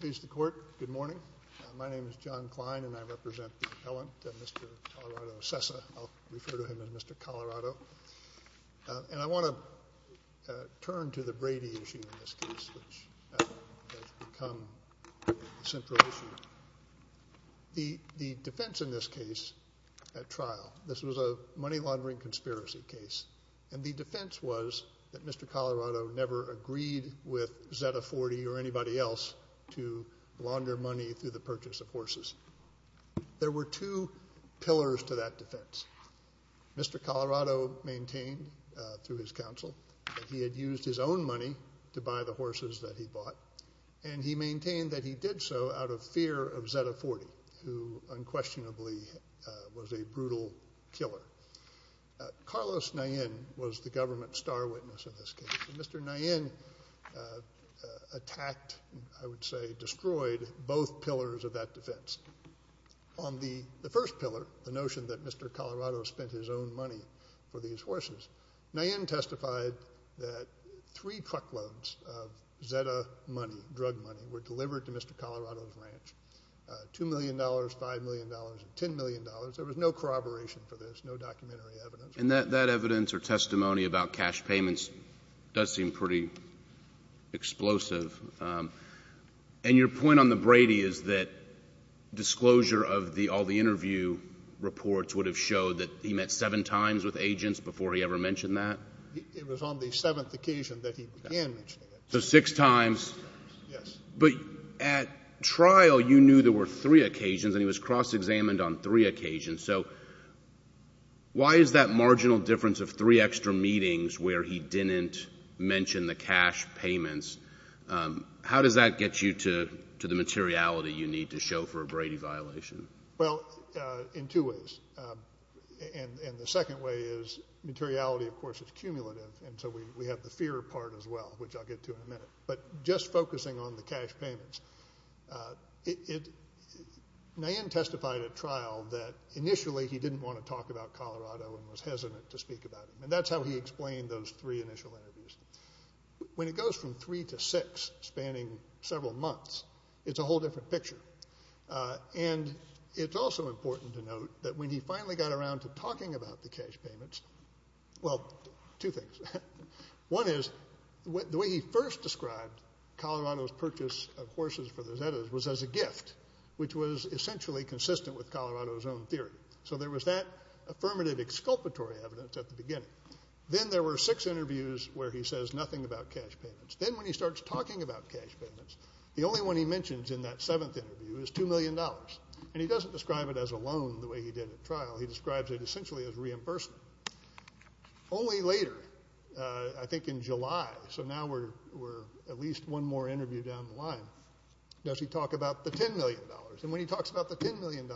Please the court. Good morning. My name is John Klein and I represent the appellant, Mr. Colorado Cessa. I'll refer to him as Mr. Colorado. And I want to turn to the Brady issue in this case, which has become a central issue. The defense in this case at trial, this was a money laundering conspiracy case, and the defense was that Mr. Colorado never agreed with Zeta 40 or anybody else to launder money through the purchase of horses. There were two pillars to that defense. Mr. Colorado maintained through his counsel that he had used his own money to buy the horses that he bought. And he maintained that he did so out of fear of Zeta 40, who unquestionably was a brutal killer. Carlos Nayen was the government star witness in this case. Mr. Nayen attacked, I would say destroyed, both pillars of that defense. On the first pillar, the notion that Mr. Colorado spent his own money for these horses, Nayen testified that three truckloads of Zeta money, drug money, were delivered to Mr. Colorado's ranch, $2 million, $5 million, $10 million. There was no corroboration for this, no documentary evidence. And that evidence or testimony about cash payments does seem pretty explosive. And your point on the Brady is that disclosure of all the interview reports would have showed that he met seven times with agents before he ever mentioned that? It was on the seventh occasion that he began mentioning it. So six times. Yes. But at trial, you knew there were three occasions, and he was cross-examined on three occasions. So why is that marginal difference of three extra meetings where he didn't mention the cash payments, how does that get you to the materiality you need to show for a Brady violation? Well, in two ways. And the second way is materiality, of course, is cumulative, and so we have the fear part as well, which I'll get to in a minute. But just focusing on the cash payments, Nayan testified at trial that initially he didn't want to talk about Colorado and was hesitant to speak about him, and that's how he explained those three initial interviews. When it goes from three to six, spanning several months, it's a whole different picture. And it's also important to note that when he finally got around to talking about the cash payments, well, two things. One is the way he first described Colorado's purchase of horses for the Zetas was as a gift, which was essentially consistent with Colorado's own theory. So there was that affirmative exculpatory evidence at the beginning. Then there were six interviews where he says nothing about cash payments. Then when he starts talking about cash payments, the only one he mentions in that seventh interview is $2 million, and he doesn't describe it as a loan the way he did at trial. He describes it essentially as reimbursement. Only later, I think in July, so now we're at least one more interview down the line, does he talk about the $10 million. And when he talks about the $10 million,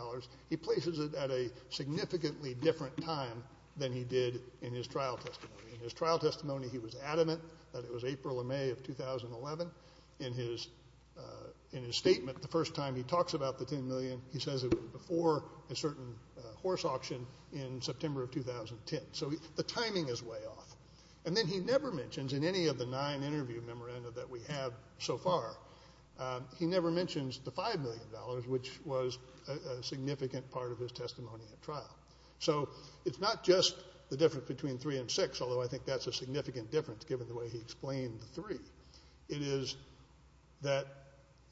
he places it at a significantly different time than he did in his trial testimony. In his trial testimony, he was adamant that it was April or May of 2011. In his statement, the first time he talks about the $10 million, he says it was before a certain horse auction in September of 2010. So the timing is way off. And then he never mentions in any of the nine interview memoranda that we have so far, he never mentions the $5 million, which was a significant part of his testimony at trial. So it's not just the difference between three and six, although I think that's a significant difference, given the way he explained the three. It is that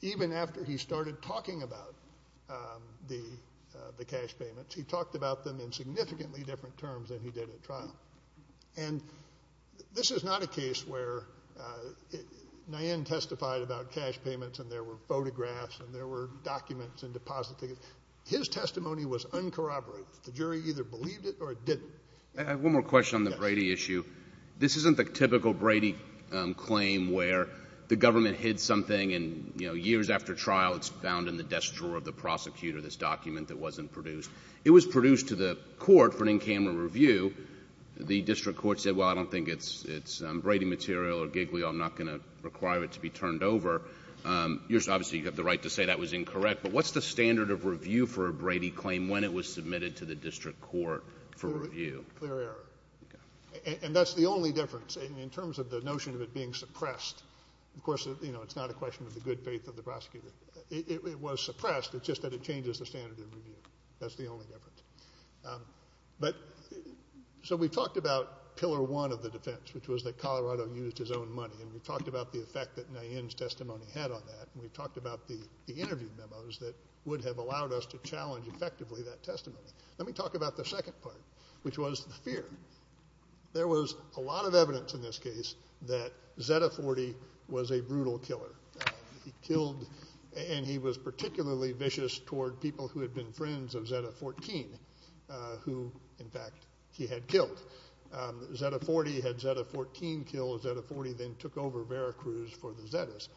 even after he started talking about the cash payments, he talked about them in significantly different terms than he did at trial. And this is not a case where Nyan testified about cash payments and there were photographs and there were documents and deposit tickets. His testimony was uncorroborated. The jury either believed it or didn't. I have one more question on the Brady issue. This isn't the typical Brady claim where the government hid something and, you know, years after trial it's found in the desk drawer of the prosecutor, this document that wasn't produced. It was produced to the court for an in-camera review. The district court said, well, I don't think it's Brady material or Giglio. I'm not going to require it to be turned over. Obviously, you have the right to say that was incorrect. But what's the standard of review for a Brady claim when it was submitted to the district court for review? Clear error. And that's the only difference in terms of the notion of it being suppressed. Of course, you know, it's not a question of the good faith of the prosecutor. It was suppressed. It's just that it changes the standard of review. That's the only difference. But so we talked about pillar one of the defense, which was that Colorado used his own money, and we talked about the effect that Nyan's testimony had on that, and we talked about the interview memos that would have allowed us to challenge effectively that testimony. Let me talk about the second part, which was the fear. There was a lot of evidence in this case that Zeta-40 was a brutal killer. He killed, and he was particularly vicious toward people who had been friends of Zeta-14, who, in fact, he had killed. Zeta-40 had Zeta-14 killed. Zeta-40 then took over Veracruz for the Zetas.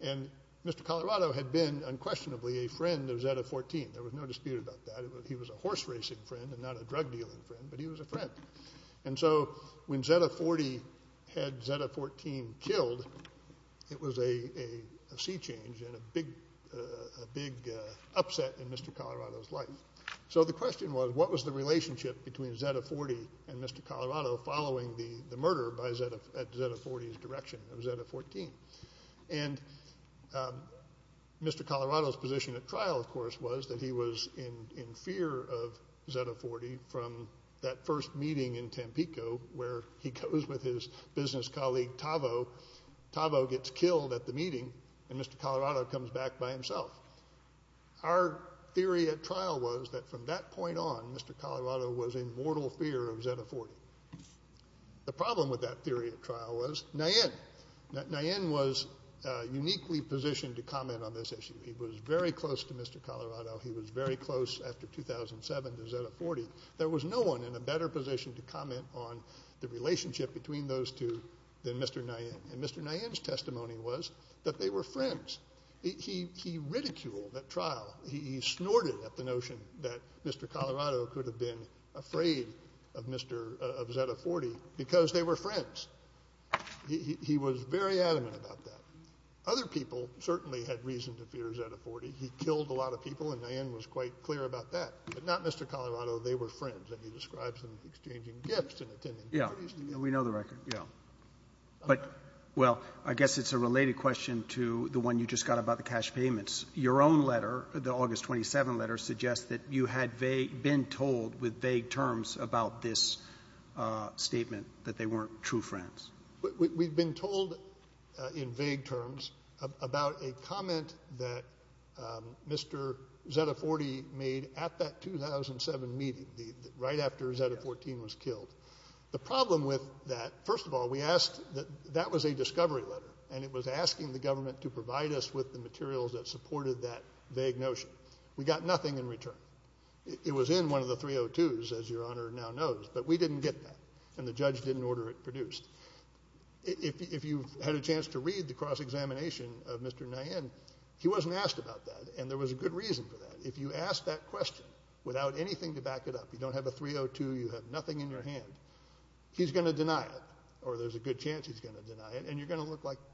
And Mr. Colorado had been unquestionably a friend of Zeta-14. There was no dispute about that. He was a horse racing friend and not a drug dealing friend, but he was a friend. And so when Zeta-40 had Zeta-14 killed, it was a sea change and a big upset in Mr. Colorado's life. So the question was what was the relationship between Zeta-40 and Mr. Colorado following the murder at Zeta-40's direction of Zeta-14? And Mr. Colorado's position at trial, of course, was that he was in fear of Zeta-40 from that first meeting in Tampico where he goes with his business colleague, Tavo. Tavo gets killed at the meeting, and Mr. Colorado comes back by himself. Our theory at trial was that from that point on, Mr. Colorado was in mortal fear of Zeta-40. The problem with that theory at trial was Nayen. Nayen was uniquely positioned to comment on this issue. He was very close to Mr. Colorado. He was very close after 2007 to Zeta-40. There was no one in a better position to comment on the relationship between those two than Mr. Nayen. And Mr. Nayen's testimony was that they were friends. He ridiculed at trial. He snorted at the notion that Mr. Colorado could have been afraid of Mr. — of Zeta-40 because they were friends. He was very adamant about that. Other people certainly had reason to fear Zeta-40. He killed a lot of people, and Nayen was quite clear about that. But not Mr. Colorado. They were friends. And he describes them exchanging gifts and attending parties together. Yeah, we know the record. Yeah. But, well, I guess it's a related question to the one you just got about the cash payments. Your own letter, the August 27 letter, suggests that you had been told with vague terms about this statement that they weren't true friends. We've been told in vague terms about a comment that Mr. Zeta-40 made at that 2007 meeting, right after Zeta-14 was killed. The problem with that, first of all, we asked — that was a discovery letter. And it was asking the government to provide us with the materials that supported that vague notion. We got nothing in return. It was in one of the 302s, as Your Honor now knows, but we didn't get that, and the judge didn't order it produced. If you've had a chance to read the cross-examination of Mr. Nayen, he wasn't asked about that, and there was a good reason for that. If you ask that question without anything to back it up, you don't have a 302, you have nothing in your hand, he's going to deny it, or there's a good chance he's going to deny it, and you're going to look like —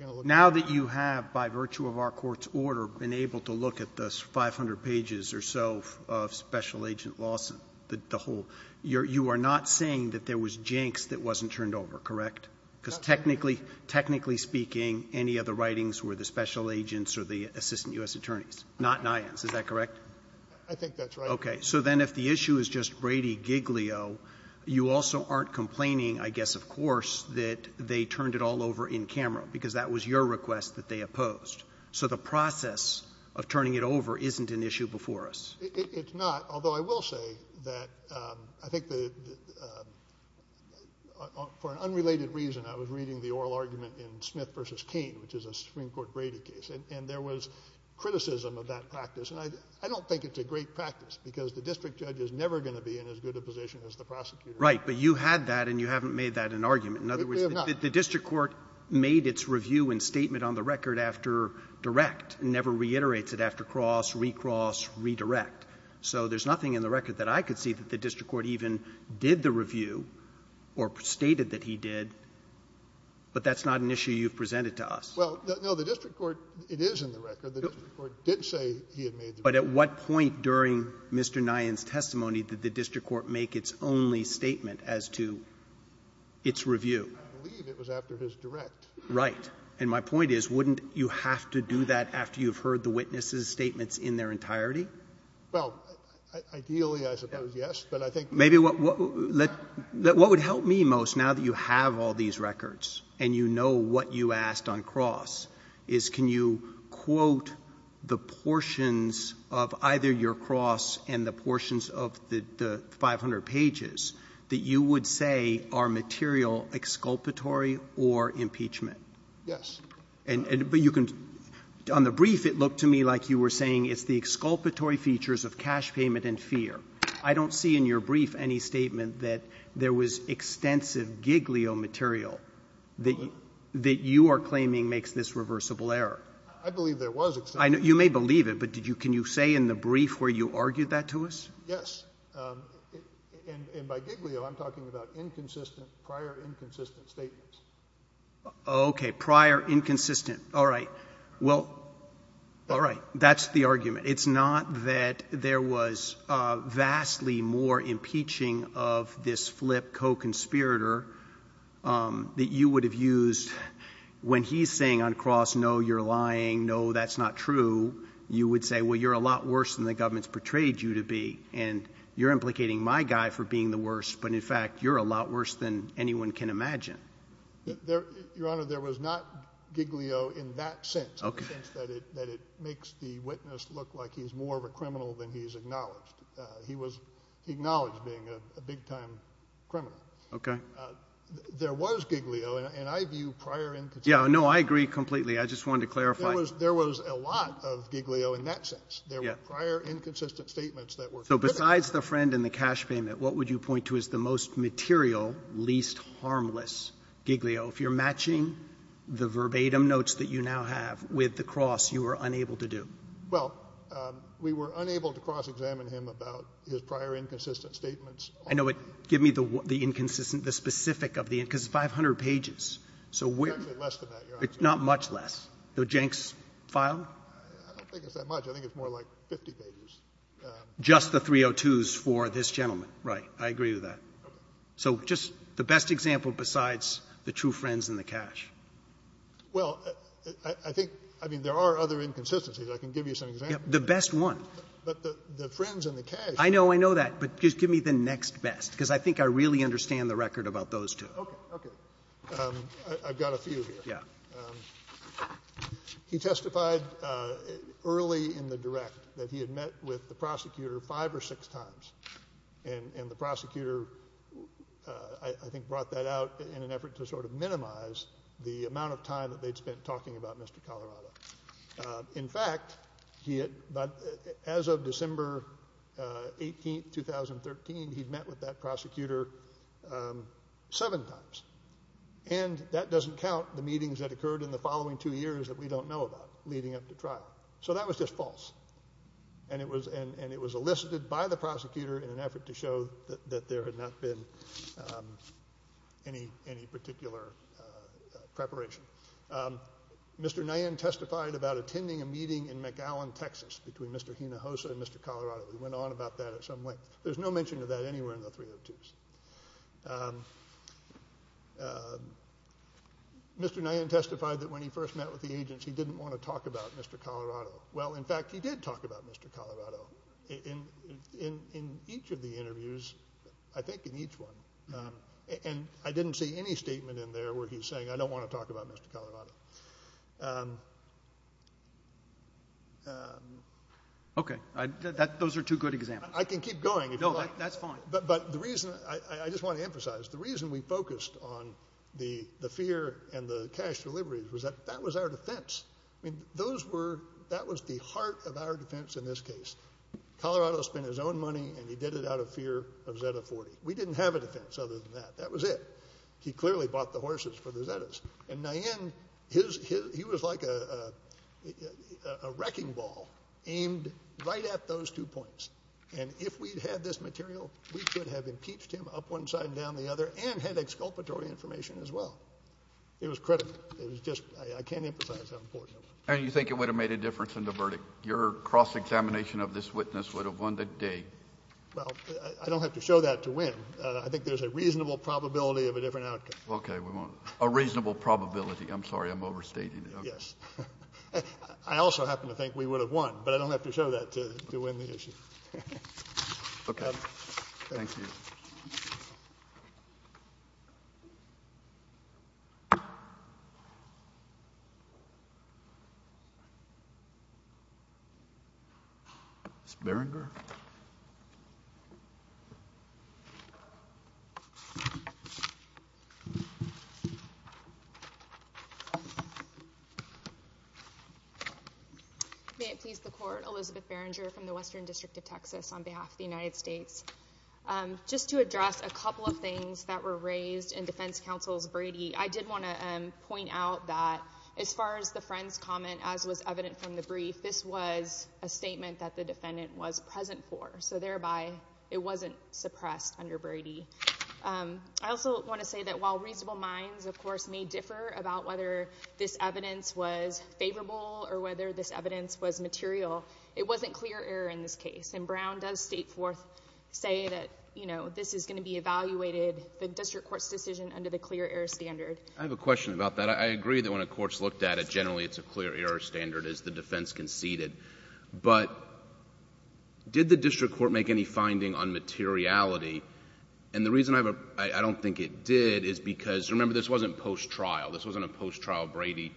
Roberts. Now that you have, by virtue of our court's order, been able to look at the 500 pages or so of Special Agent Lawson, the whole — you are not saying that there was jinx that wasn't turned over, correct? Because technically — technically speaking, any of the writings were the special agents or the assistant U.S. attorneys, not Nayen's. Is that correct? I think that's right. Okay. So then if the issue is just Brady giglio, you also aren't complaining, I guess, of course, that they turned it all over in camera, because that was your request that they opposed. So the process of turning it over isn't an issue before us. It's not, although I will say that I think the — for an unrelated reason, I was reading the oral argument in Smith v. Cain, which is a Supreme Court Brady case, and there was criticism of that practice. And I don't think it's a great practice, because the district judge is never going to be in as good a position as the prosecutor. Right. But you had that, and you haven't made that an argument. We have not. In other words, the district court made its review and statement on the record after direct and never reiterates it after cross, recross, redirect. So there's nothing in the record that I could see that the district court even did the review or stated that he did, but that's not an issue you've presented to us. Well, no. The district court, it is in the record. The district court did say he had made the review. But at what point during Mr. Nyan's testimony did the district court make its only statement as to its review? I believe it was after his direct. Right. And my point is, wouldn't you have to do that after you've heard the witnesses' statements in their entirety? Well, ideally, I suppose, yes. But I think — Maybe what would help me most, now that you have all these records and you know what you asked on cross, is can you quote the portions of either your cross and the portions of the 500 pages that you would say are material exculpatory or impeachment? Yes. But you can — on the brief, it looked to me like you were saying it's the exculpatory features of cash payment and fear. I don't see in your brief any statement that there was extensive giglio material that you are claiming makes this reversible error. I believe there was extensive. You may believe it, but can you say in the brief where you argued that to us? Yes. And by giglio, I'm talking about inconsistent, prior inconsistent statements. Okay. Prior inconsistent. All right. Well, all right. That's the argument. But it's not that there was vastly more impeaching of this flip co-conspirator that you would have used when he's saying on cross, no, you're lying, no, that's not true. You would say, well, you're a lot worse than the government's portrayed you to be, and you're implicating my guy for being the worst, but in fact, you're a lot worse than anyone can imagine. Your Honor, there was not giglio in that sense. Okay. There was not giglio in the sense that it makes the witness look like he's more of a criminal than he's acknowledged. He was acknowledged being a big-time criminal. Okay. There was giglio, and I view prior inconsistent. Yeah, no, I agree completely. I just wanted to clarify. There was a lot of giglio in that sense. Yeah. There were prior inconsistent statements that were good enough. So besides the friend and the cash payment, what would you point to as the most material, least harmless giglio? If you're matching the verbatim notes that you now have with the cross, you were unable to do. Well, we were unable to cross-examine him about his prior inconsistent statements. I know, but give me the inconsistent, the specific of the inconsistent, because it's 500 pages. It's actually less than that, Your Honor. Not much less. The Jenks file? I don't think it's that much. I think it's more like 50 pages. Just the 302s for this gentleman. Right. I agree with that. Okay. So just the best example besides the true friends and the cash. Well, I think, I mean, there are other inconsistencies. I can give you some examples. The best one. But the friends and the cash. I know. I know that. But just give me the next best, because I think I really understand the record about those two. Okay. Okay. I've got a few here. Yeah. He testified early in the direct that he had met with the prosecutor five or six times, and the prosecutor, I think, brought that out in an effort to sort of minimize the amount of time that they'd spent talking about Mr. Colorado. In fact, as of December 18, 2013, he'd met with that prosecutor seven times, and that doesn't count the meetings that occurred in the following two years that we don't know about leading up to trial. So that was just false. And it was elicited by the prosecutor in an effort to show that there had not been any particular preparation. Mr. Nyan testified about attending a meeting in McAllen, Texas, between Mr. Hinojosa and Mr. Colorado. He went on about that at some length. There's no mention of that anywhere in the 302s. Mr. Nyan testified that when he first met with the agents, he didn't want to talk about Mr. Colorado. Well, in fact, he did talk about Mr. Colorado in each of the interviews, I think in each one. And I didn't see any statement in there where he's saying, I don't want to talk about Mr. Colorado. Okay. Those are two good examples. I can keep going. No, that's fine. But the reason I just want to emphasize, the reason we focused on the fear and the cash deliveries was that that was our defense. I mean, that was the heart of our defense in this case. Colorado spent his own money, and he did it out of fear of Zeta-40. We didn't have a defense other than that. That was it. He clearly bought the horses for the Zetas. And Nyan, he was like a wrecking ball aimed right at those two points. And if we'd had this material, we could have impeached him up one side and down the other and had exculpatory information as well. It was critical. I can't emphasize how important it was. And you think it would have made a difference in the verdict? Your cross-examination of this witness would have won the day. Well, I don't have to show that to win. I think there's a reasonable probability of a different outcome. Okay. A reasonable probability. I'm sorry. I'm overstating it. Yes. I also happen to think we would have won, but I don't have to show that to win the issue. Okay. Thank you. Thank you. Ms. Barringer. May it please the Court, Elizabeth Barringer from the Western District of Texas on behalf of the United States. Just to address a couple of things that were raised in Defense Counsel's Brady, I did want to point out that as far as the friend's comment, as was evident from the brief, this was a statement that the defendant was present for, so thereby it wasn't suppressed under Brady. I also want to say that while reasonable minds, of course, may differ about whether this evidence was favorable or whether this evidence was material, it wasn't clear error in this case. And Brown does state forth, say that, you know, this is going to be evaluated, the district court's decision, under the clear error standard. I have a question about that. I agree that when a court's looked at it, generally it's a clear error standard as the defense conceded. But did the district court make any finding on materiality? And the reason I don't think it did is because, remember, this wasn't post-trial. This wasn't a post-trial Brady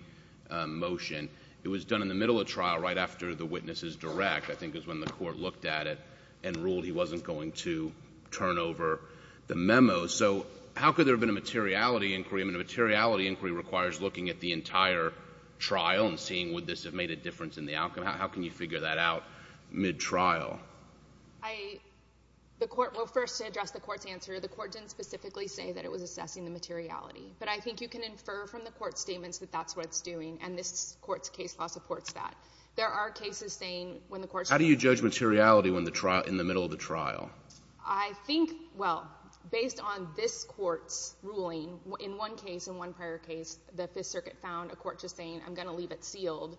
motion. It was done in the middle of trial right after the witness's direct, I think, was when the court looked at it and ruled he wasn't going to turn over the memo. So how could there have been a materiality inquiry? I mean, a materiality inquiry requires looking at the entire trial and seeing would this have made a difference in the outcome. How can you figure that out mid-trial? I — the Court — well, first, to address the Court's answer, the Court didn't specifically say that it was assessing the materiality. But I think you can infer from the Court's statements that that's what it's doing, and this Court's case law supports that. There are cases saying when the Court — How do you judge materiality in the middle of the trial? I think, well, based on this Court's ruling, in one case, in one prior case, the Fifth Circuit found a court just saying, I'm going to leave it sealed,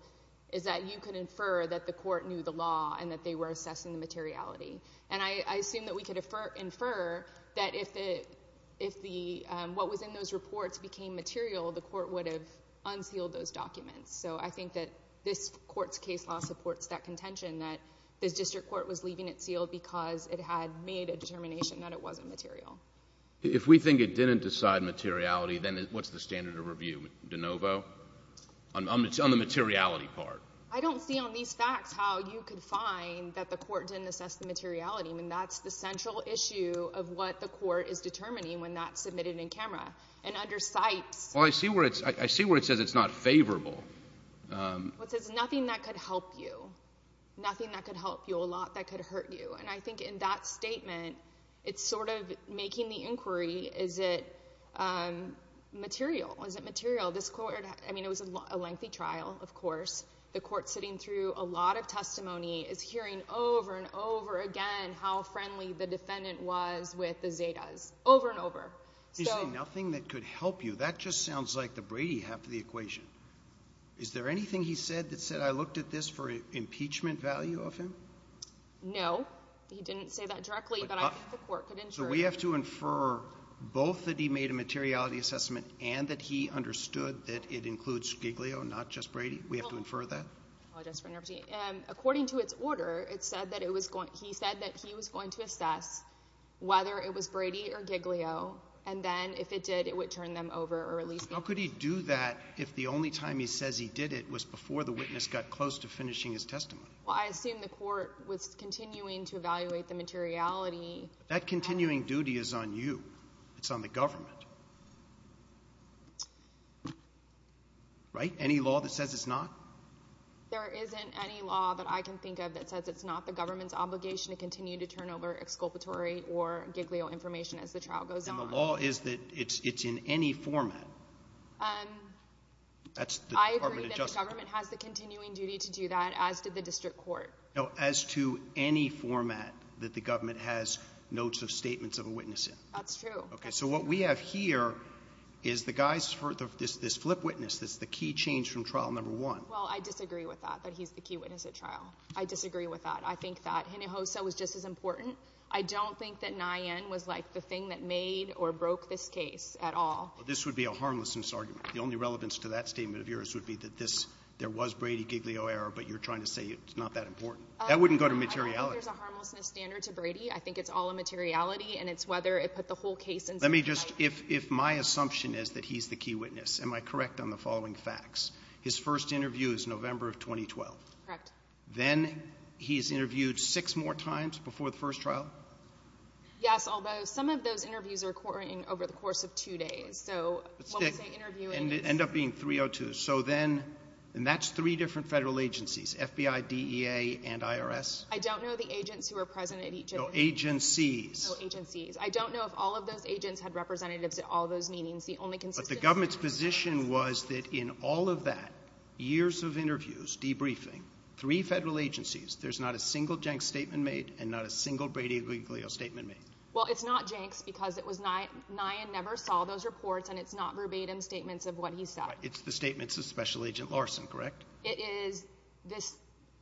is that you can infer that the Court knew the law and that they were assessing the materiality. And I assume that we could infer that if the — what was in those reports became material, the Court would have unsealed those documents. So I think that this Court's case law supports that contention, that this district court was leaving it sealed because it had made a determination that it wasn't material. If we think it didn't decide materiality, then what's the standard of review? De novo? On the materiality part? I don't see on these facts how you could find that the Court didn't assess the materiality. I mean, that's the central issue of what the Court is determining when that's submitted in camera. And under Sipes — Well, I see where it's — I see where it says it's not favorable. It says nothing that could help you, nothing that could help you, a lot that could hurt you. And I think in that statement, it's sort of making the inquiry, is it material? Is it material? This Court — I mean, it was a lengthy trial, of course. The Court sitting through a lot of testimony is hearing over and over again how friendly the defendant was with the Zetas, over and over. You say nothing that could help you. That just sounds like the Brady half of the equation. Is there anything he said that said, I looked at this for impeachment value of him? No, he didn't say that directly, but I think the Court could ensure — So we have to infer both that he made a materiality assessment and that he understood that it includes Giglio, not just Brady? We have to infer that? I apologize for interrupting. According to its order, it said that it was going — How could he do that if the only time he says he did it was before the witness got close to finishing his testimony? Well, I assume the Court was continuing to evaluate the materiality. That continuing duty is on you. It's on the government, right? Any law that says it's not? There isn't any law that I can think of that says it's not the government's obligation to continue to turn over exculpatory or Giglio information as the trial goes on. The law is that it's in any format. That's the Department of Justice. I agree that the government has the continuing duty to do that, as did the district court. No, as to any format that the government has notes of statements of a witness in. That's true. So what we have here is the guy's — this flip witness that's the key change from trial number one. Well, I disagree with that, that he's the key witness at trial. I disagree with that. I think that Hinojosa was just as important. I don't think that Nyen was, like, the thing that made or broke this case at all. This would be a harmlessness argument. The only relevance to that statement of yours would be that this — there was Brady-Giglio error, but you're trying to say it's not that important. That wouldn't go to materiality. I don't think there's a harmlessness standard to Brady. I think it's all a materiality, and it's whether it put the whole case in some light. Let me just — if my assumption is that he's the key witness, am I correct on the following facts? His first interview is November of 2012. Correct. Then he's interviewed six more times before the first trial? Yes, although some of those interviews are occurring over the course of two days. So what we say interviewing — And it ended up being 302. So then — and that's three different federal agencies, FBI, DEA, and IRS. I don't know the agents who were present at each of them. No, agencies. No, agencies. I don't know if all of those agents had representatives at all those meetings. But the government's position was that in all of that, years of interviews, debriefing, three federal agencies, there's not a single Jenks statement made and not a single Brady legal statement made. Well, it's not Jenks because it was — Nyan never saw those reports, and it's not verbatim statements of what he said. It's the statements of Special Agent Larson, correct? It is.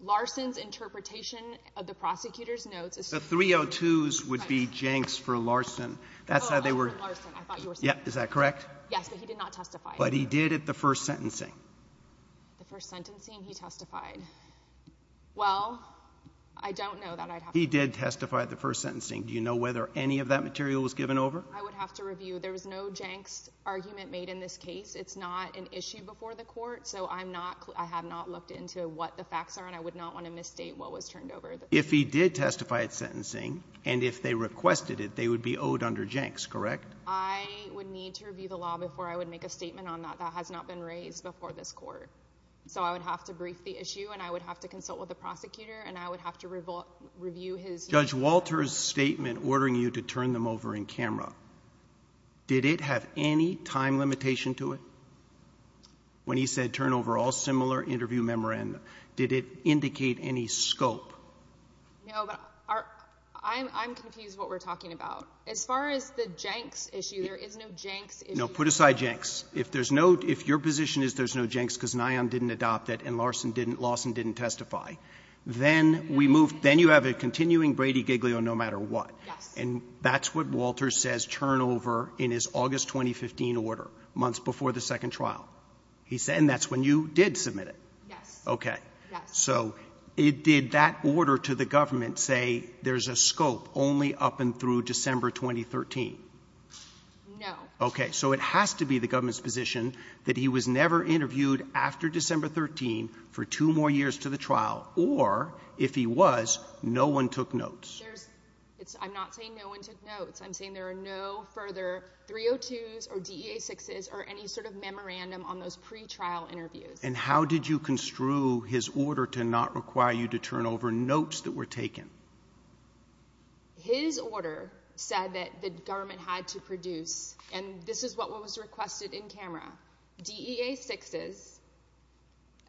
Larson's interpretation of the prosecutor's notes is — The 302s would be Jenks for Larson. That's how they were — Oh, Larson. Yeah, is that correct? Yes, but he did not testify. But he did at the first sentencing. The first sentencing he testified. Well, I don't know that I'd have to — He did testify at the first sentencing. Do you know whether any of that material was given over? I would have to review. There was no Jenks argument made in this case. It's not an issue before the court, so I'm not — I have not looked into what the facts are, and I would not want to misstate what was turned over. If he did testify at sentencing, and if they requested it, they would be owed under Jenks, correct? I would need to review the law before I would make a statement on that. That has not been raised before this court. So I would have to brief the issue, and I would have to consult with the prosecutor, and I would have to review his — Judge Walter's statement ordering you to turn them over in camera, did it have any time limitation to it? When he said turn over all similar interview memoranda, did it indicate any scope? No, but I'm confused what we're talking about. As far as the Jenks issue, there is no Jenks issue. No, put aside Jenks. If there's no — if your position is there's no Jenks because Nyon didn't adopt it and Lawson didn't testify, then we move — then you have a continuing Brady-Giglio no matter what. Yes. And that's what Walter says, turn over in his August 2015 order, months before the second trial. And that's when you did submit it. Yes. Okay. Yes. So did that order to the government say there's a scope only up and through December 2013? No. Okay. So it has to be the government's position that he was never interviewed after December 13 for two more years to the trial, or if he was, no one took notes. There's — I'm not saying no one took notes. I'm saying there are no further 302s or DEA-6s or any sort of memorandum on those pretrial interviews. And how did you construe his order to not require you to turn over notes that were taken? His order said that the government had to produce, and this is what was requested in camera, DEA-6s,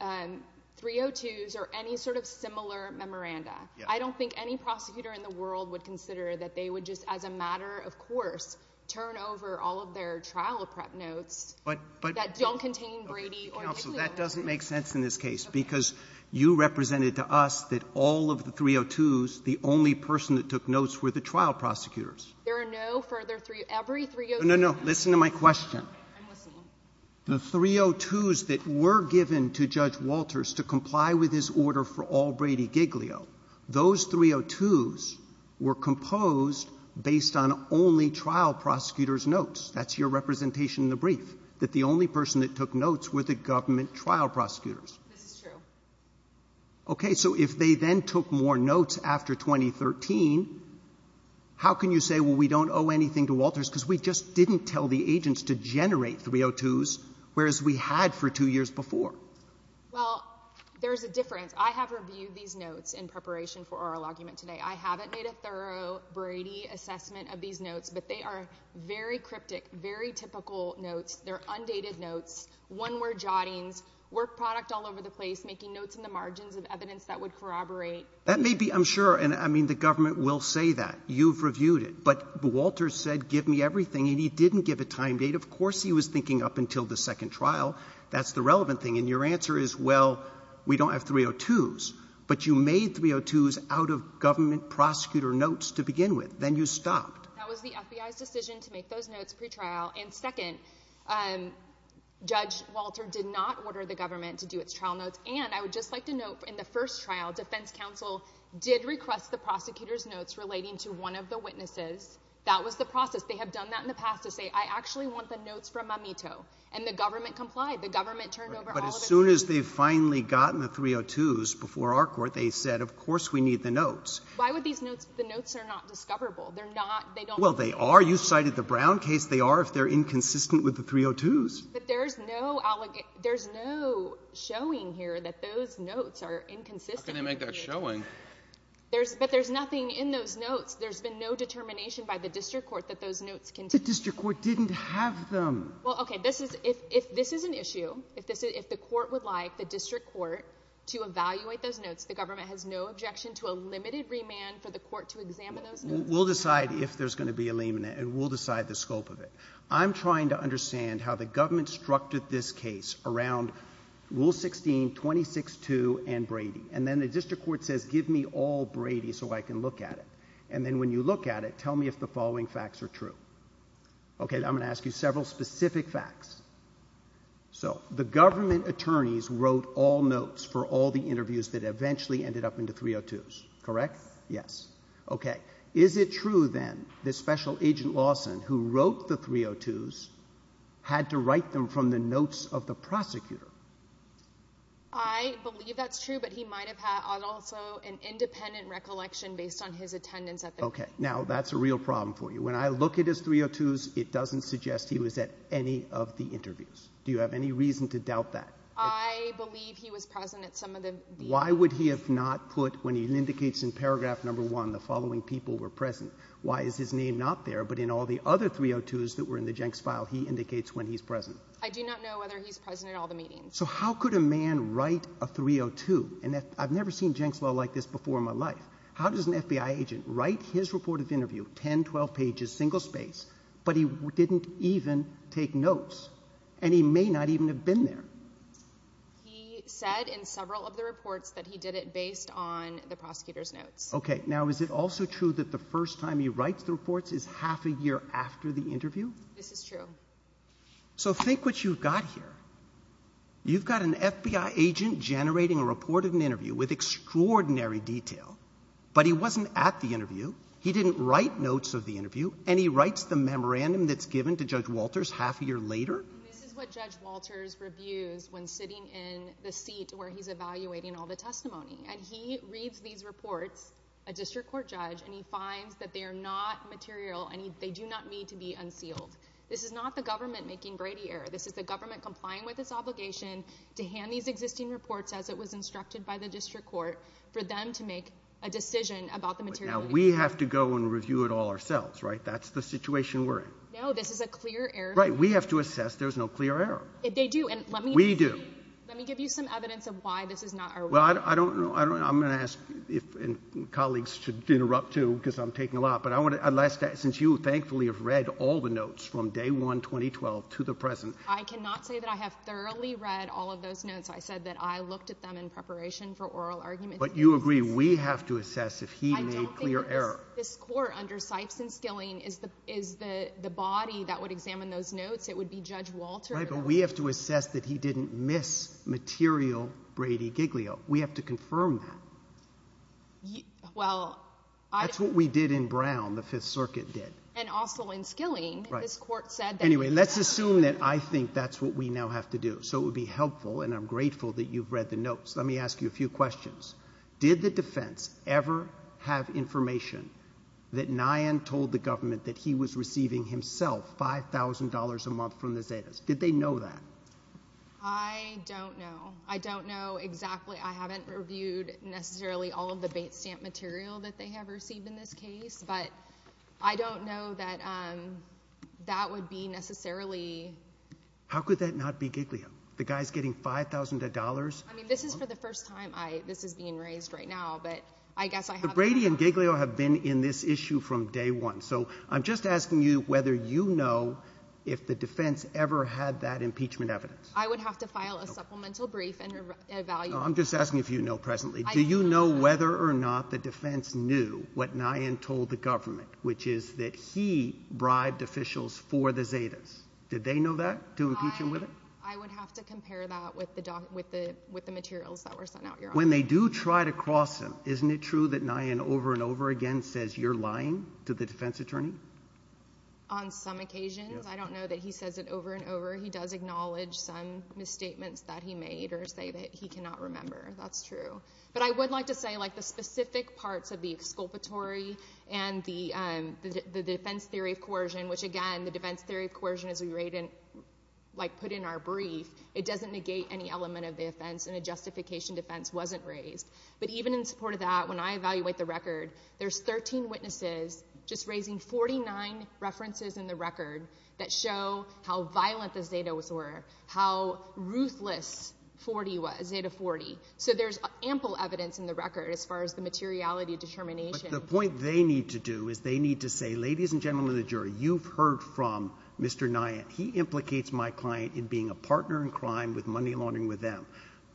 302s, or any sort of similar memoranda. I don't think any prosecutor in the world would consider that they would just as a matter of course turn over all of their trial prep notes that don't contain Brady or — So that doesn't make sense in this case, because you represented to us that all of the 302s, the only person that took notes were the trial prosecutors. There are no further 302s. Every 302 — No, no, no. Listen to my question. I'm listening. The 302s that were given to Judge Walters to comply with his order for all Brady Giglio, those 302s were composed based on only trial prosecutors' notes. That's your representation in the brief, that the only person that took notes were the government trial prosecutors. This is true. Okay. So if they then took more notes after 2013, how can you say, well, we don't owe anything to Walters because we just didn't tell the agents to generate 302s, whereas we had for two years before? Well, there's a difference. I have reviewed these notes in preparation for oral argument today. I haven't made a thorough Brady assessment of these notes, but they are very cryptic, very typical notes. They're undated notes, one-word jottings, work product all over the place, making notes in the margins of evidence that would corroborate. That may be, I'm sure, and, I mean, the government will say that. You've reviewed it. But Walters said, give me everything, and he didn't give a time date. Of course he was thinking up until the second trial. That's the relevant thing. And your answer is, well, we don't have 302s. But you made 302s out of government prosecutor notes to begin with. Then you stopped. That was the FBI's decision to make those notes pretrial. And second, Judge Walter did not order the government to do its trial notes. And I would just like to note, in the first trial, defense counsel did request the prosecutor's notes relating to one of the witnesses. That was the process. They have done that in the past to say, I actually want the notes from Mamito. And the government complied. The government turned over all of the notes. But as soon as they've finally gotten the 302s before our court, they said, of course we need the notes. Why would these notes, the notes are not discoverable. They're not, they don't. Well, they are. You cited the Brown case. They are if they're inconsistent with the 302s. But there's no showing here that those notes are inconsistent. How can they make that showing? But there's nothing in those notes. There's been no determination by the district court that those notes can be found. The district court didn't have them. Well, okay. If this is an issue, if the court would like the district court to evaluate those those notes. Well, we'll decide if there's going to be a lien in it. And we'll decide the scope of it. I'm trying to understand how the government structured this case around Rule 16, 26-2 and Brady. And then the district court says, give me all Brady so I can look at it. And then when you look at it, tell me if the following facts are true. Okay. I'm going to ask you several specific facts. So the government attorneys wrote all notes for all the interviews that eventually ended up in the 302s. Correct? Yes. Okay. Is it true, then, that Special Agent Lawson, who wrote the 302s, had to write them from the notes of the prosecutor? I believe that's true. But he might have had also an independent recollection based on his attendance at the interview. Okay. Now, that's a real problem for you. When I look at his 302s, it doesn't suggest he was at any of the interviews. Do you have any reason to doubt that? I believe he was present at some of the interviews. Why would he have not put, when he indicates in paragraph number one, the following people were present? Why is his name not there, but in all the other 302s that were in the Jenks file, he indicates when he's present? I do not know whether he's present at all the meetings. So how could a man write a 302? And I've never seen Jenks law like this before in my life. How does an FBI agent write his report of interview, 10, 12 pages, single space, but he didn't even take notes? And he may not even have been there. He said in several of the reports that he did it based on the prosecutor's notes. Okay. Now, is it also true that the first time he writes the reports is half a year after the interview? This is true. So think what you've got here. You've got an FBI agent generating a report of an interview with extraordinary detail, but he wasn't at the interview. He didn't write notes of the interview, and he writes the memorandum that's given to Judge Walters half a year later? This is what Judge Walters reviews when sitting in the seat where he's evaluating all the testimony. And he reads these reports, a district court judge, and he finds that they are not material and they do not need to be unsealed. This is not the government making Brady error. This is the government complying with its obligation to hand these existing reports as it was instructed by the district court for them to make a decision about the materiality. Now, we have to go and review it all ourselves, right? That's the situation we're in. No, this is a clear error. Right. We have to assess there's no clear error. They do. And let me. We do. Let me give you some evidence of why this is not. Well, I don't know. I don't know. I'm going to ask if colleagues should interrupt too, because I'm taking a lot. But I want to last since you thankfully have read all the notes from day one, 2012 to the present. I cannot say that I have thoroughly read all of those notes. I said that I looked at them in preparation for oral argument. But you agree we have to assess if he made clear error. This court under Sipes and Skilling is the body that would examine those notes. It would be Judge Walter. Right. But we have to assess that he didn't miss material Brady Giglio. We have to confirm that. Well, I. That's what we did in Brown, the Fifth Circuit did. And also in Skilling. Right. This court said that. Anyway, let's assume that I think that's what we now have to do. So it would be helpful, and I'm grateful that you've read the notes. Let me ask you a few questions. Did the defense ever have information that Nyan told the government that he was receiving himself $5,000 a month from the Zetas? Did they know that? I don't know. I don't know exactly. I haven't reviewed necessarily all of the bait stamp material that they have received in this case. But I don't know that that would be necessarily. How could that not be Giglio? The guy's getting $5,000 a month? I mean, this is for the first time this is being raised right now, but I guess I have. But Brady and Giglio have been in this issue from day one. So I'm just asking you whether you know if the defense ever had that impeachment evidence. I would have to file a supplemental brief and evaluate. No, I'm just asking if you know presently. Do you know whether or not the defense knew what Nyan told the government, which is that he bribed officials for the Zetas? Did they know that, to impeach him with it? I would have to compare that with the materials that were sent out. When they do try to cross him, isn't it true that Nyan over and over again says you're lying to the defense attorney? On some occasions. I don't know that he says it over and over. He does acknowledge some misstatements that he made or say that he cannot remember. That's true. But I would like to say the specific parts of the exculpatory and the defense theory of coercion, which, again, the defense theory of coercion, as we put in our brief, it doesn't negate any element of the offense and a justification defense wasn't raised. But even in support of that, when I evaluate the record, there's 13 witnesses just raising 49 references in the record that show how violent the Zetas were, how ruthless Zeta 40 was. So there's ample evidence in the record as far as the materiality determination. But the point they need to do is they need to say, ladies and gentlemen of the jury, you've heard from Mr. Nyan. He implicates my client in being a partner in crime with money laundering with them.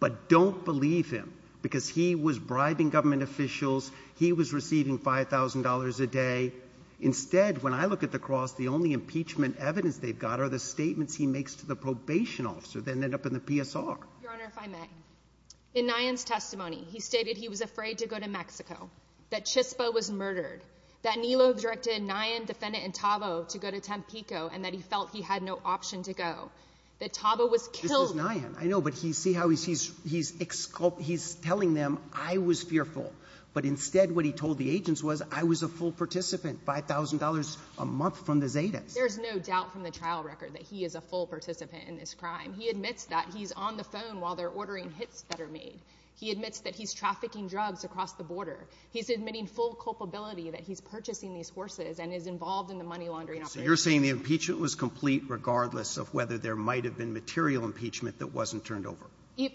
But don't believe him because he was bribing government officials. He was receiving $5,000 a day. Instead, when I look at the cross, the only impeachment evidence they've got are the statements he makes to the probation officer that end up in the PSR. Your Honor, if I may, in Nyan's testimony, he stated he was afraid to go to Mexico, that Chispa was murdered, that Nilo directed Nyan, defendant, and Tavo to go to Tampico, and that he felt he had no option to go, that Tavo was killed. This is Nyan. I know, but see how he's telling them I was fearful. But instead what he told the agents was I was a full participant, $5,000 a month from the Zetas. There's no doubt from the trial record that he is a full participant in this crime. He admits that. He's on the phone while they're ordering hits that are made. He admits that he's trafficking drugs across the border. He's admitting full culpability that he's purchasing these horses and is involved in the money laundering operation. So you're saying the impeachment was complete regardless of whether there might have been material impeachment that wasn't turned over?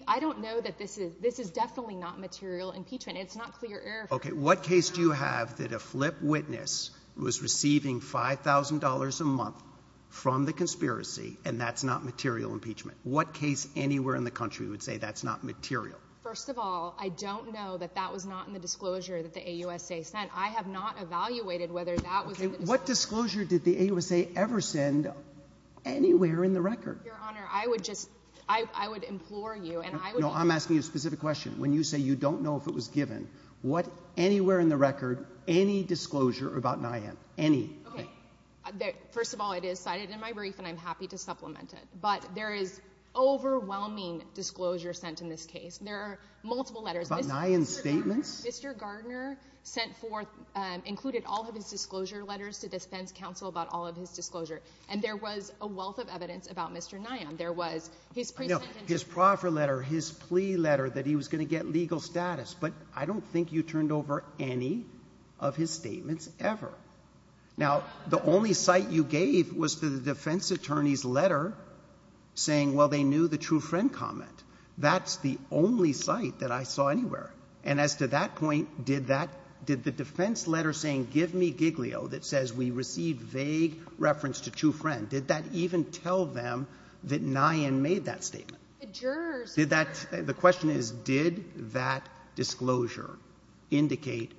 I don't know that this is definitely not material impeachment. It's not clear error. Okay. What case do you have that a flip witness was receiving $5,000 a month from the conspiracy, and that's not material impeachment? What case anywhere in the country would say that's not material? First of all, I don't know that that was not in the disclosure that the AUSA sent. I have not evaluated whether that was. Okay. What disclosure did the AUSA ever send anywhere in the record? Your Honor, I would just, I would implore you and I would. No, I'm asking you a specific question. When you say you don't know if it was given, what, anywhere in the record, any disclosure about Nyan, any? Okay. First of all, it is cited in my brief and I'm happy to supplement it. But there is overwhelming disclosure sent in this case. There are multiple letters. About Nyan's statements? Mr. Gardner sent forth, included all of his disclosure letters to defense counsel about all of his disclosure. And there was a wealth of evidence about Mr. Nyan. There was his pre-sentence. His proffer letter, his plea letter that he was going to get legal status. But I don't think you turned over any of his statements ever. Now, the only cite you gave was to the defense attorney's letter saying, well, they knew the true friend comment. That's the only cite that I saw anywhere. And as to that point, did that, did the defense letter saying give me Giglio that says we received vague reference to true friend, did that even tell them that Nyan made that statement? The jurors did. The question is, did that disclosure indicate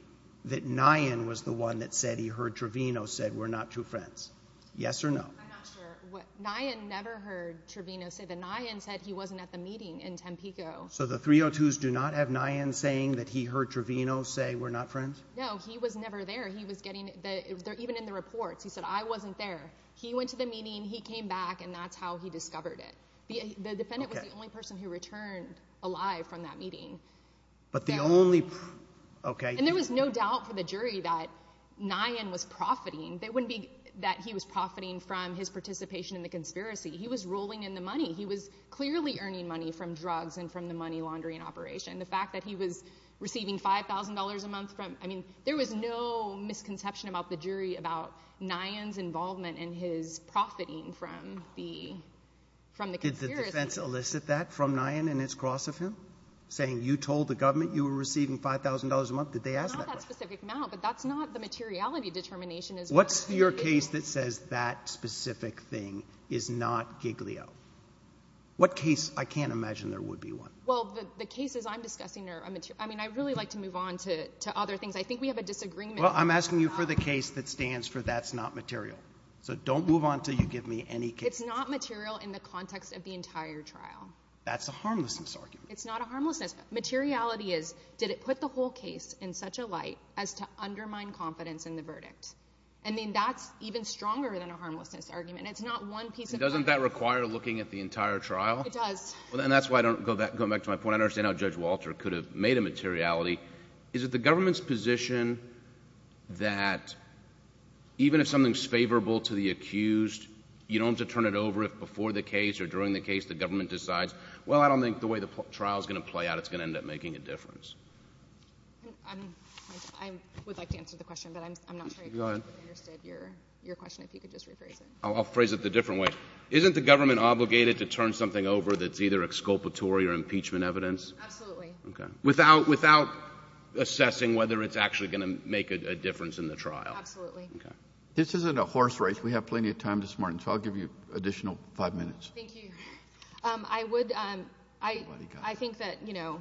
that Nyan was the one that said he heard Trevino say we're not true friends? Yes or no? I'm not sure. Nyan never heard Trevino say that. Nyan said he wasn't at the meeting in Tampico. So the 302s do not have Nyan saying that he heard Trevino say we're not friends? No, he was never there. He was getting, even in the reports, he said I wasn't there. He went to the meeting, he came back, and that's how he discovered it. The defendant was the only person who returned alive from that meeting. But the only, okay. And there was no doubt for the jury that Nyan was profiting. It wouldn't be that he was profiting from his participation in the conspiracy. He was rolling in the money. He was clearly earning money from drugs and from the money laundering operation. The fact that he was receiving $5,000 a month from, I mean, there was no misconception about the jury about Nyan's involvement and his profiting from the conspiracy. Did the defense elicit that from Nyan in its cross of him, saying you told the government you were receiving $5,000 a month? Did they ask that question? Not that specific amount, but that's not the materiality determination. What's your case that says that specific thing is not Giglio? What case? I can't imagine there would be one. Well, the cases I'm discussing are material. I mean, I'd really like to move on to other things. I think we have a disagreement. Well, I'm asking you for the case that stands for that's not material. So don't move on until you give me any case. It's not material in the context of the entire trial. That's a harmlessness argument. It's not a harmlessness. Materiality is did it put the whole case in such a light as to undermine confidence in the verdict? I mean, that's even stronger than a harmlessness argument. It's not one piece of argument. Doesn't that require looking at the entire trial? It does. And that's why I don't go back to my point. I understand how Judge Walter could have made a materiality. Is it the government's position that even if something's favorable to the accused, you don't have to turn it over if before the case or during the case the government decides, well, I don't think the way the trial is going to play out, it's going to end up making a difference? I would like to answer the question, but I'm not sure I understood your question. If you could just rephrase it. I'll phrase it the different way. Isn't the government obligated to turn something over that's either exculpatory or impeachment evidence? Absolutely. Without assessing whether it's actually going to make a difference in the trial? Absolutely. This isn't a horse race. We have plenty of time this morning, so I'll give you additional five minutes. Thank you. I think that, you know,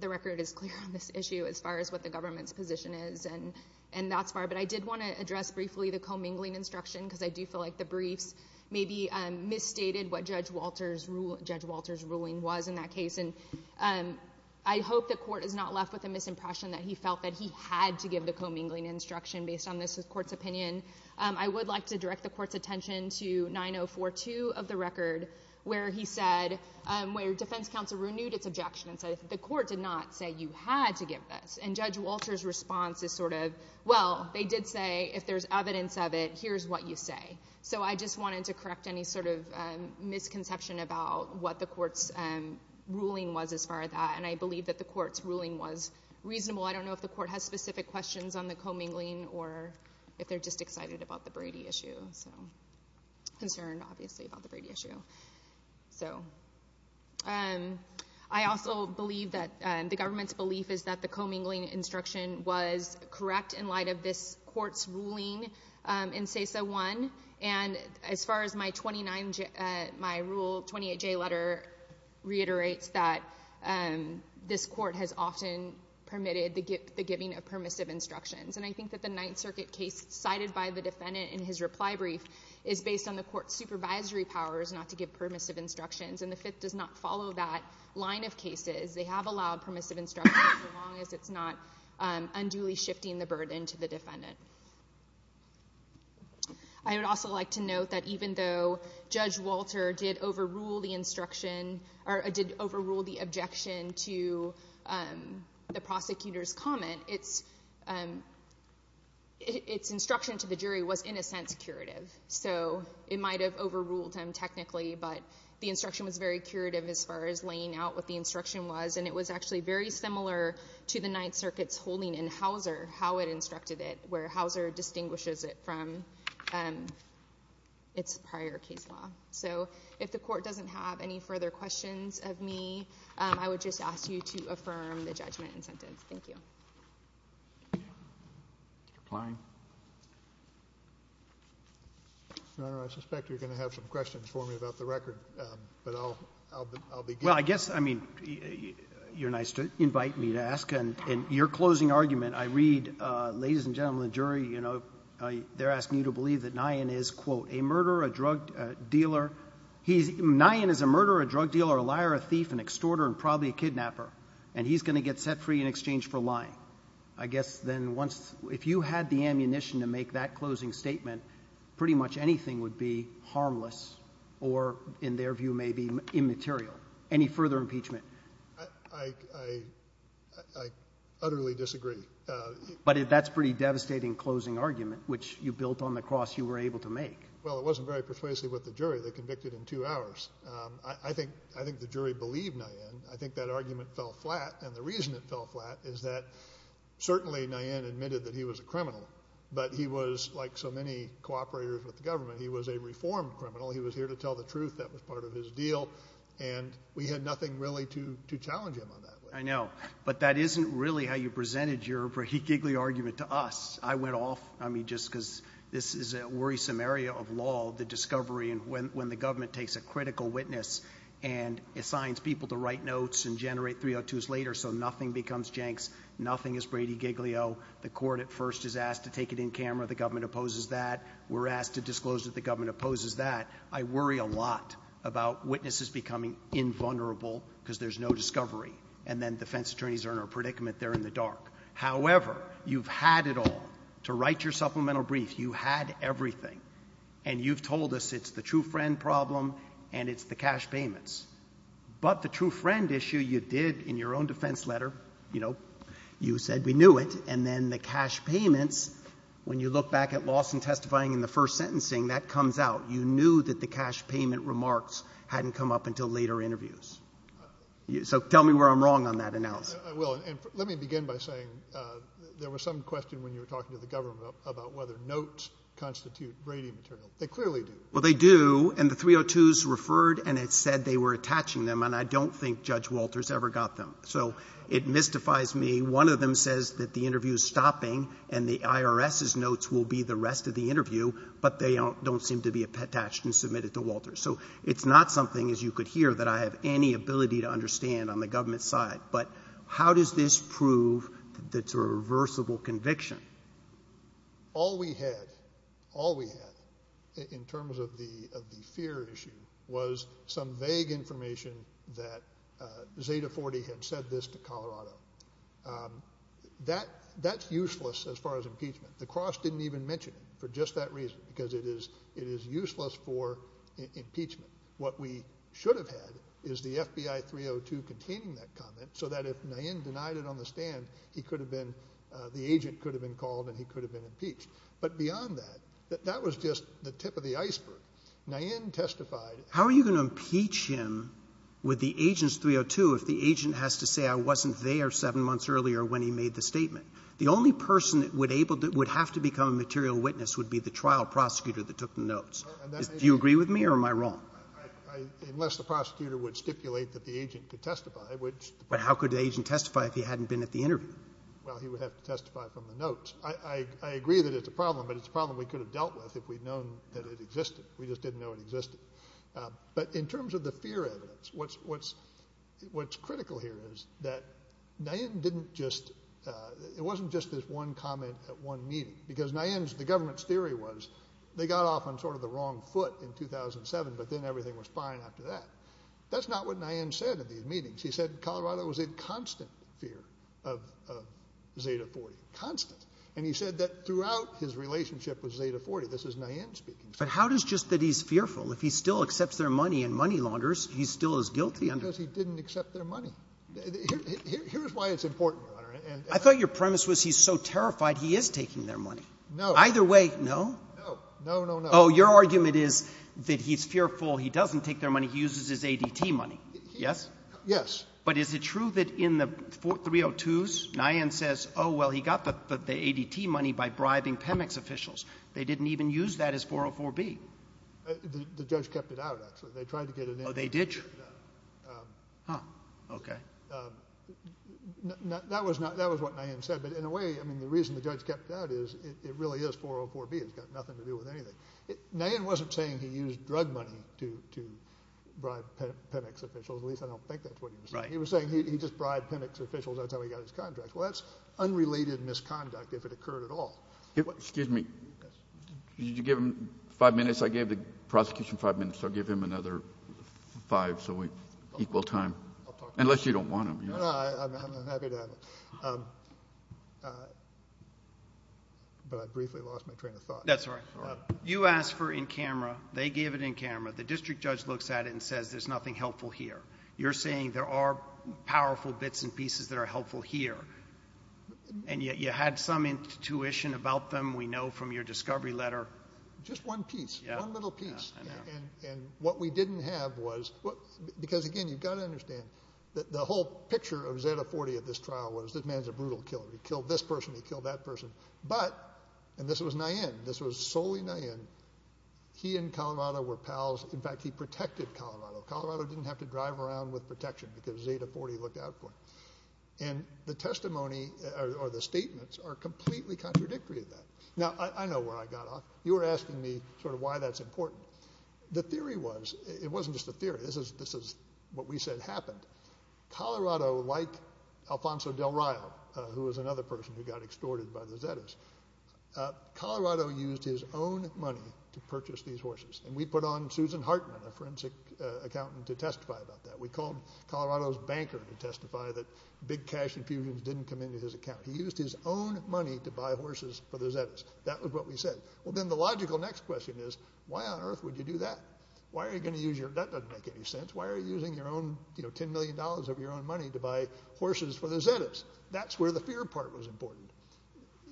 the record is clear on this issue as far as what the government's position is, and that's fine. But I did want to address briefly the commingling instruction because I do feel like the briefs maybe misstated what Judge Walter's ruling was in that case. And I hope the court is not left with a misimpression that he felt that he had to give the commingling instruction based on this court's opinion. I would like to direct the court's attention to 9042 of the record where he said, where defense counsel renewed its objection and said the court did not say you had to give this. And Judge Walter's response is sort of, well, they did say if there's evidence of it, here's what you say. So I just wanted to correct any sort of misconception about what the court's ruling was as far as that, and I believe that the court's ruling was reasonable. I don't know if the court has specific questions on the commingling or if they're just excited about the Brady issue. Concerned, obviously, about the Brady issue. I also believe that the government's belief is that the commingling instruction was correct in light of this court's ruling in CESA 1, and as far as my Rule 28J letter reiterates, that this court has often permitted the giving of permissive instructions. And I think that the Ninth Circuit case cited by the defendant in his reply brief is based on the court's supervisory powers not to give permissive instructions, and the Fifth does not follow that line of cases. They have allowed permissive instructions as long as it's not unduly shifting the burden to the defendant. I would also like to note that even though Judge Walter did overrule the objection to the prosecutor's comment, its instruction to the jury was, in a sense, curative. So it might have overruled him technically, but the instruction was very curative as far as laying out what the instruction was, and it was actually very similar to the Ninth Circuit's holding in Hauser, how it instructed it, where Hauser distinguishes it from its prior case law. So if the court doesn't have any further questions of me, I would just ask you to affirm the judgment and sentence. Thank you. Roberts. Your Honor, I suspect you're going to have some questions for me about the record, but I'll begin. Well, I guess, I mean, you're nice to invite me to ask, and in your closing argument, I read, ladies and gentlemen of the jury, you know, they're asking you to believe that Nyan is, quote, a murderer, a drug dealer. Nyan is a murderer, a drug dealer, a liar, a thief, an extorter, and probably a kidnapper, and he's going to get set free in exchange for lying. I guess then once, if you had the ammunition to make that closing statement, pretty much anything would be harmless or, in their view, maybe immaterial. Any further impeachment? I utterly disagree. But that's a pretty devastating closing argument, which you built on the cross you were able to make. Well, it wasn't very persuasive with the jury. They convicted in two hours. I think the jury believed Nyan. I think that argument fell flat, and the reason it fell flat is that certainly Nyan admitted that he was a criminal, but he was, like so many cooperators with the government, he was a reformed criminal. He was here to tell the truth. That was part of his deal, and we had nothing really to challenge him on that. I know, but that isn't really how you presented your giggly argument to us. I went off, I mean, just because this is a worrisome area of law, the discovery, and when the government takes a critical witness and assigns people to write notes and generate 302s later so nothing becomes Jenks, nothing is Brady Giglio. The court at first is asked to take it in camera. The government opposes that. We're asked to disclose that the government opposes that. I worry a lot about witnesses becoming invulnerable because there's no discovery, and then defense attorneys are in a predicament. They're in the dark. However, you've had it all. To write your supplemental brief, you had everything, and you've told us it's the true friend problem and it's the cash payments. But the true friend issue you did in your own defense letter, you know, you said we knew it, and then the cash payments, when you look back at Lawson testifying in the first sentencing, that comes out. You knew that the cash payment remarks hadn't come up until later interviews. So tell me where I'm wrong on that analysis. Well, let me begin by saying there was some question when you were talking to the government about whether notes constitute Brady material. They clearly do. Well, they do, and the 302s referred, and it said they were attaching them, and I don't think Judge Walters ever got them. So it mystifies me. One of them says that the interview is stopping and the IRS's notes will be the rest of the interview, but they don't seem to be attached and submitted to Walters. So it's not something, as you could hear, that I have any ability to understand on the government side. But how does this prove that it's a reversible conviction? All we had in terms of the fear issue was some vague information that Zeta 40 had said this to Colorado. That's useless as far as impeachment. The cross didn't even mention it for just that reason, because it is useless for impeachment. What we should have had is the FBI 302 containing that comment, so that if Nayin denied it on the stand, he could have been ‑‑ the agent could have been called and he could have been impeached. But beyond that, that was just the tip of the iceberg. Nayin testified. How are you going to impeach him with the agent's 302 if the agent has to say I wasn't there seven months earlier when he made the statement? The only person that would have to become a material witness would be the trial prosecutor that took the notes. Do you agree with me or am I wrong? Unless the prosecutor would stipulate that the agent could testify. But how could the agent testify if he hadn't been at the interview? Well, he would have to testify from the notes. I agree that it's a problem, but it's a problem we could have dealt with if we'd known that it existed. We just didn't know it existed. But in terms of the fear evidence, what's critical here is that Nayin didn't just ‑‑ it wasn't just this one comment at one meeting, because Nayin's ‑‑ the government's theory was they got off on sort of the wrong foot in 2007, but then everything was fine after that. That's not what Nayin said at these meetings. He said Colorado was in constant fear of Zeta 40, constant. And he said that throughout his relationship with Zeta 40, this is Nayin speaking. But how does just that he's fearful? If he still accepts their money and money launders, he still is guilty? Because he didn't accept their money. Here's why it's important, Your Honor. I thought your premise was he's so terrified he is taking their money. No. Either way, no? No, no, no, no. Oh, your argument is that he's fearful, he doesn't take their money, he uses his ADT money. Yes? Yes. But is it true that in the 302s, Nayin says, oh, well, he got the ADT money by bribing PEMEX officials. They didn't even use that as 404B. The judge kept it out, actually. They tried to get it in. Oh, they did? No. Huh. Okay. That was what Nayin said. But in a way, I mean, the reason the judge kept it out is it really is 404B. It's got nothing to do with anything. Nayin wasn't saying he used drug money to bribe PEMEX officials. At least I don't think that's what he was saying. Right. He was saying he just bribed PEMEX officials. That's how he got his contract. Well, that's unrelated misconduct if it occurred at all. Excuse me. Yes. Did you give him five minutes? I gave the prosecution five minutes, so I'll give him another five, so equal time. Unless you don't want him. No, no. I'm happy to have it. But I briefly lost my train of thought. That's all right. You asked for it in camera. They gave it in camera. The district judge looks at it and says there's nothing helpful here. You're saying there are powerful bits and pieces that are helpful here, and yet you had some intuition about them, we know, from your discovery letter. Just one piece, one little piece. Yes, I know. And what we didn't have was, because, again, you've got to understand, the whole picture of Zeta-40 at this trial was this man's a brutal killer. He killed this person, he killed that person. But, and this was Nayen, this was solely Nayen, he and Colorado were pals. In fact, he protected Colorado. Colorado didn't have to drive around with protection because Zeta-40 looked out for it. And the testimony or the statements are completely contradictory to that. Now, I know where I got off. You were asking me sort of why that's important. The theory was, it wasn't just a theory, this is what we said happened. Colorado, like Alfonso Del Rio, who was another person who got extorted by the Zetas, Colorado used his own money to purchase these horses. And we put on Susan Hartman, a forensic accountant, to testify about that. We called Colorado's banker to testify that big cash infusions didn't come into his account. He used his own money to buy horses for the Zetas. That was what we said. Well, then the logical next question is, why on earth would you do that? Why are you going to use your, that doesn't make any sense, why are you using your own $10 million of your own money to buy horses for the Zetas? That's where the fear part was important.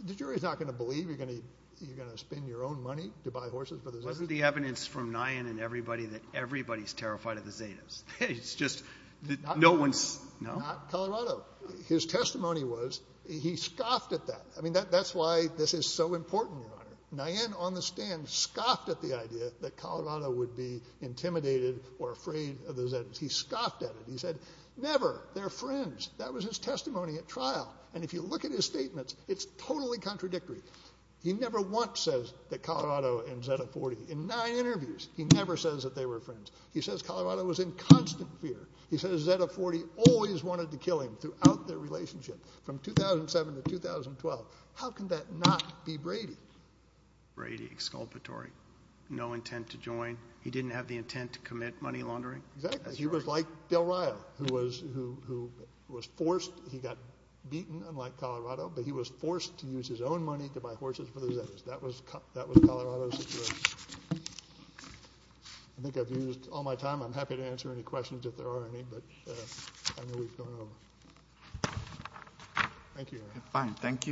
The jury's not going to believe you're going to spend your own money to buy horses for the Zetas. Wasn't the evidence from Nayen and everybody that everybody's terrified of the Zetas? It's just, no one's, no? Not Colorado. His testimony was, he scoffed at that. I mean, that's why this is so important, Your Honor. Nayen, on the stand, scoffed at the idea that Colorado would be intimidated or afraid of the Zetas. He scoffed at it. He said, never, they're friends. That was his testimony at trial. And if you look at his statements, it's totally contradictory. He never once says that Colorado and Zeta-40, in nine interviews, he never says that they were friends. He says Colorado was in constant fear. He says Zeta-40 always wanted to kill him throughout their relationship. From 2007 to 2012, how can that not be Brady? Brady, exculpatory. No intent to join. He didn't have the intent to commit money laundering? Exactly. He was like Bill Ryle, who was forced, he got beaten, unlike Colorado, but he was forced to use his own money to buy horses for the Zetas. That was Colorado's situation. I think I've used all my time. I'm happy to answer any questions if there are any, but I know we've gone over. Thank you. Fine. Thank you.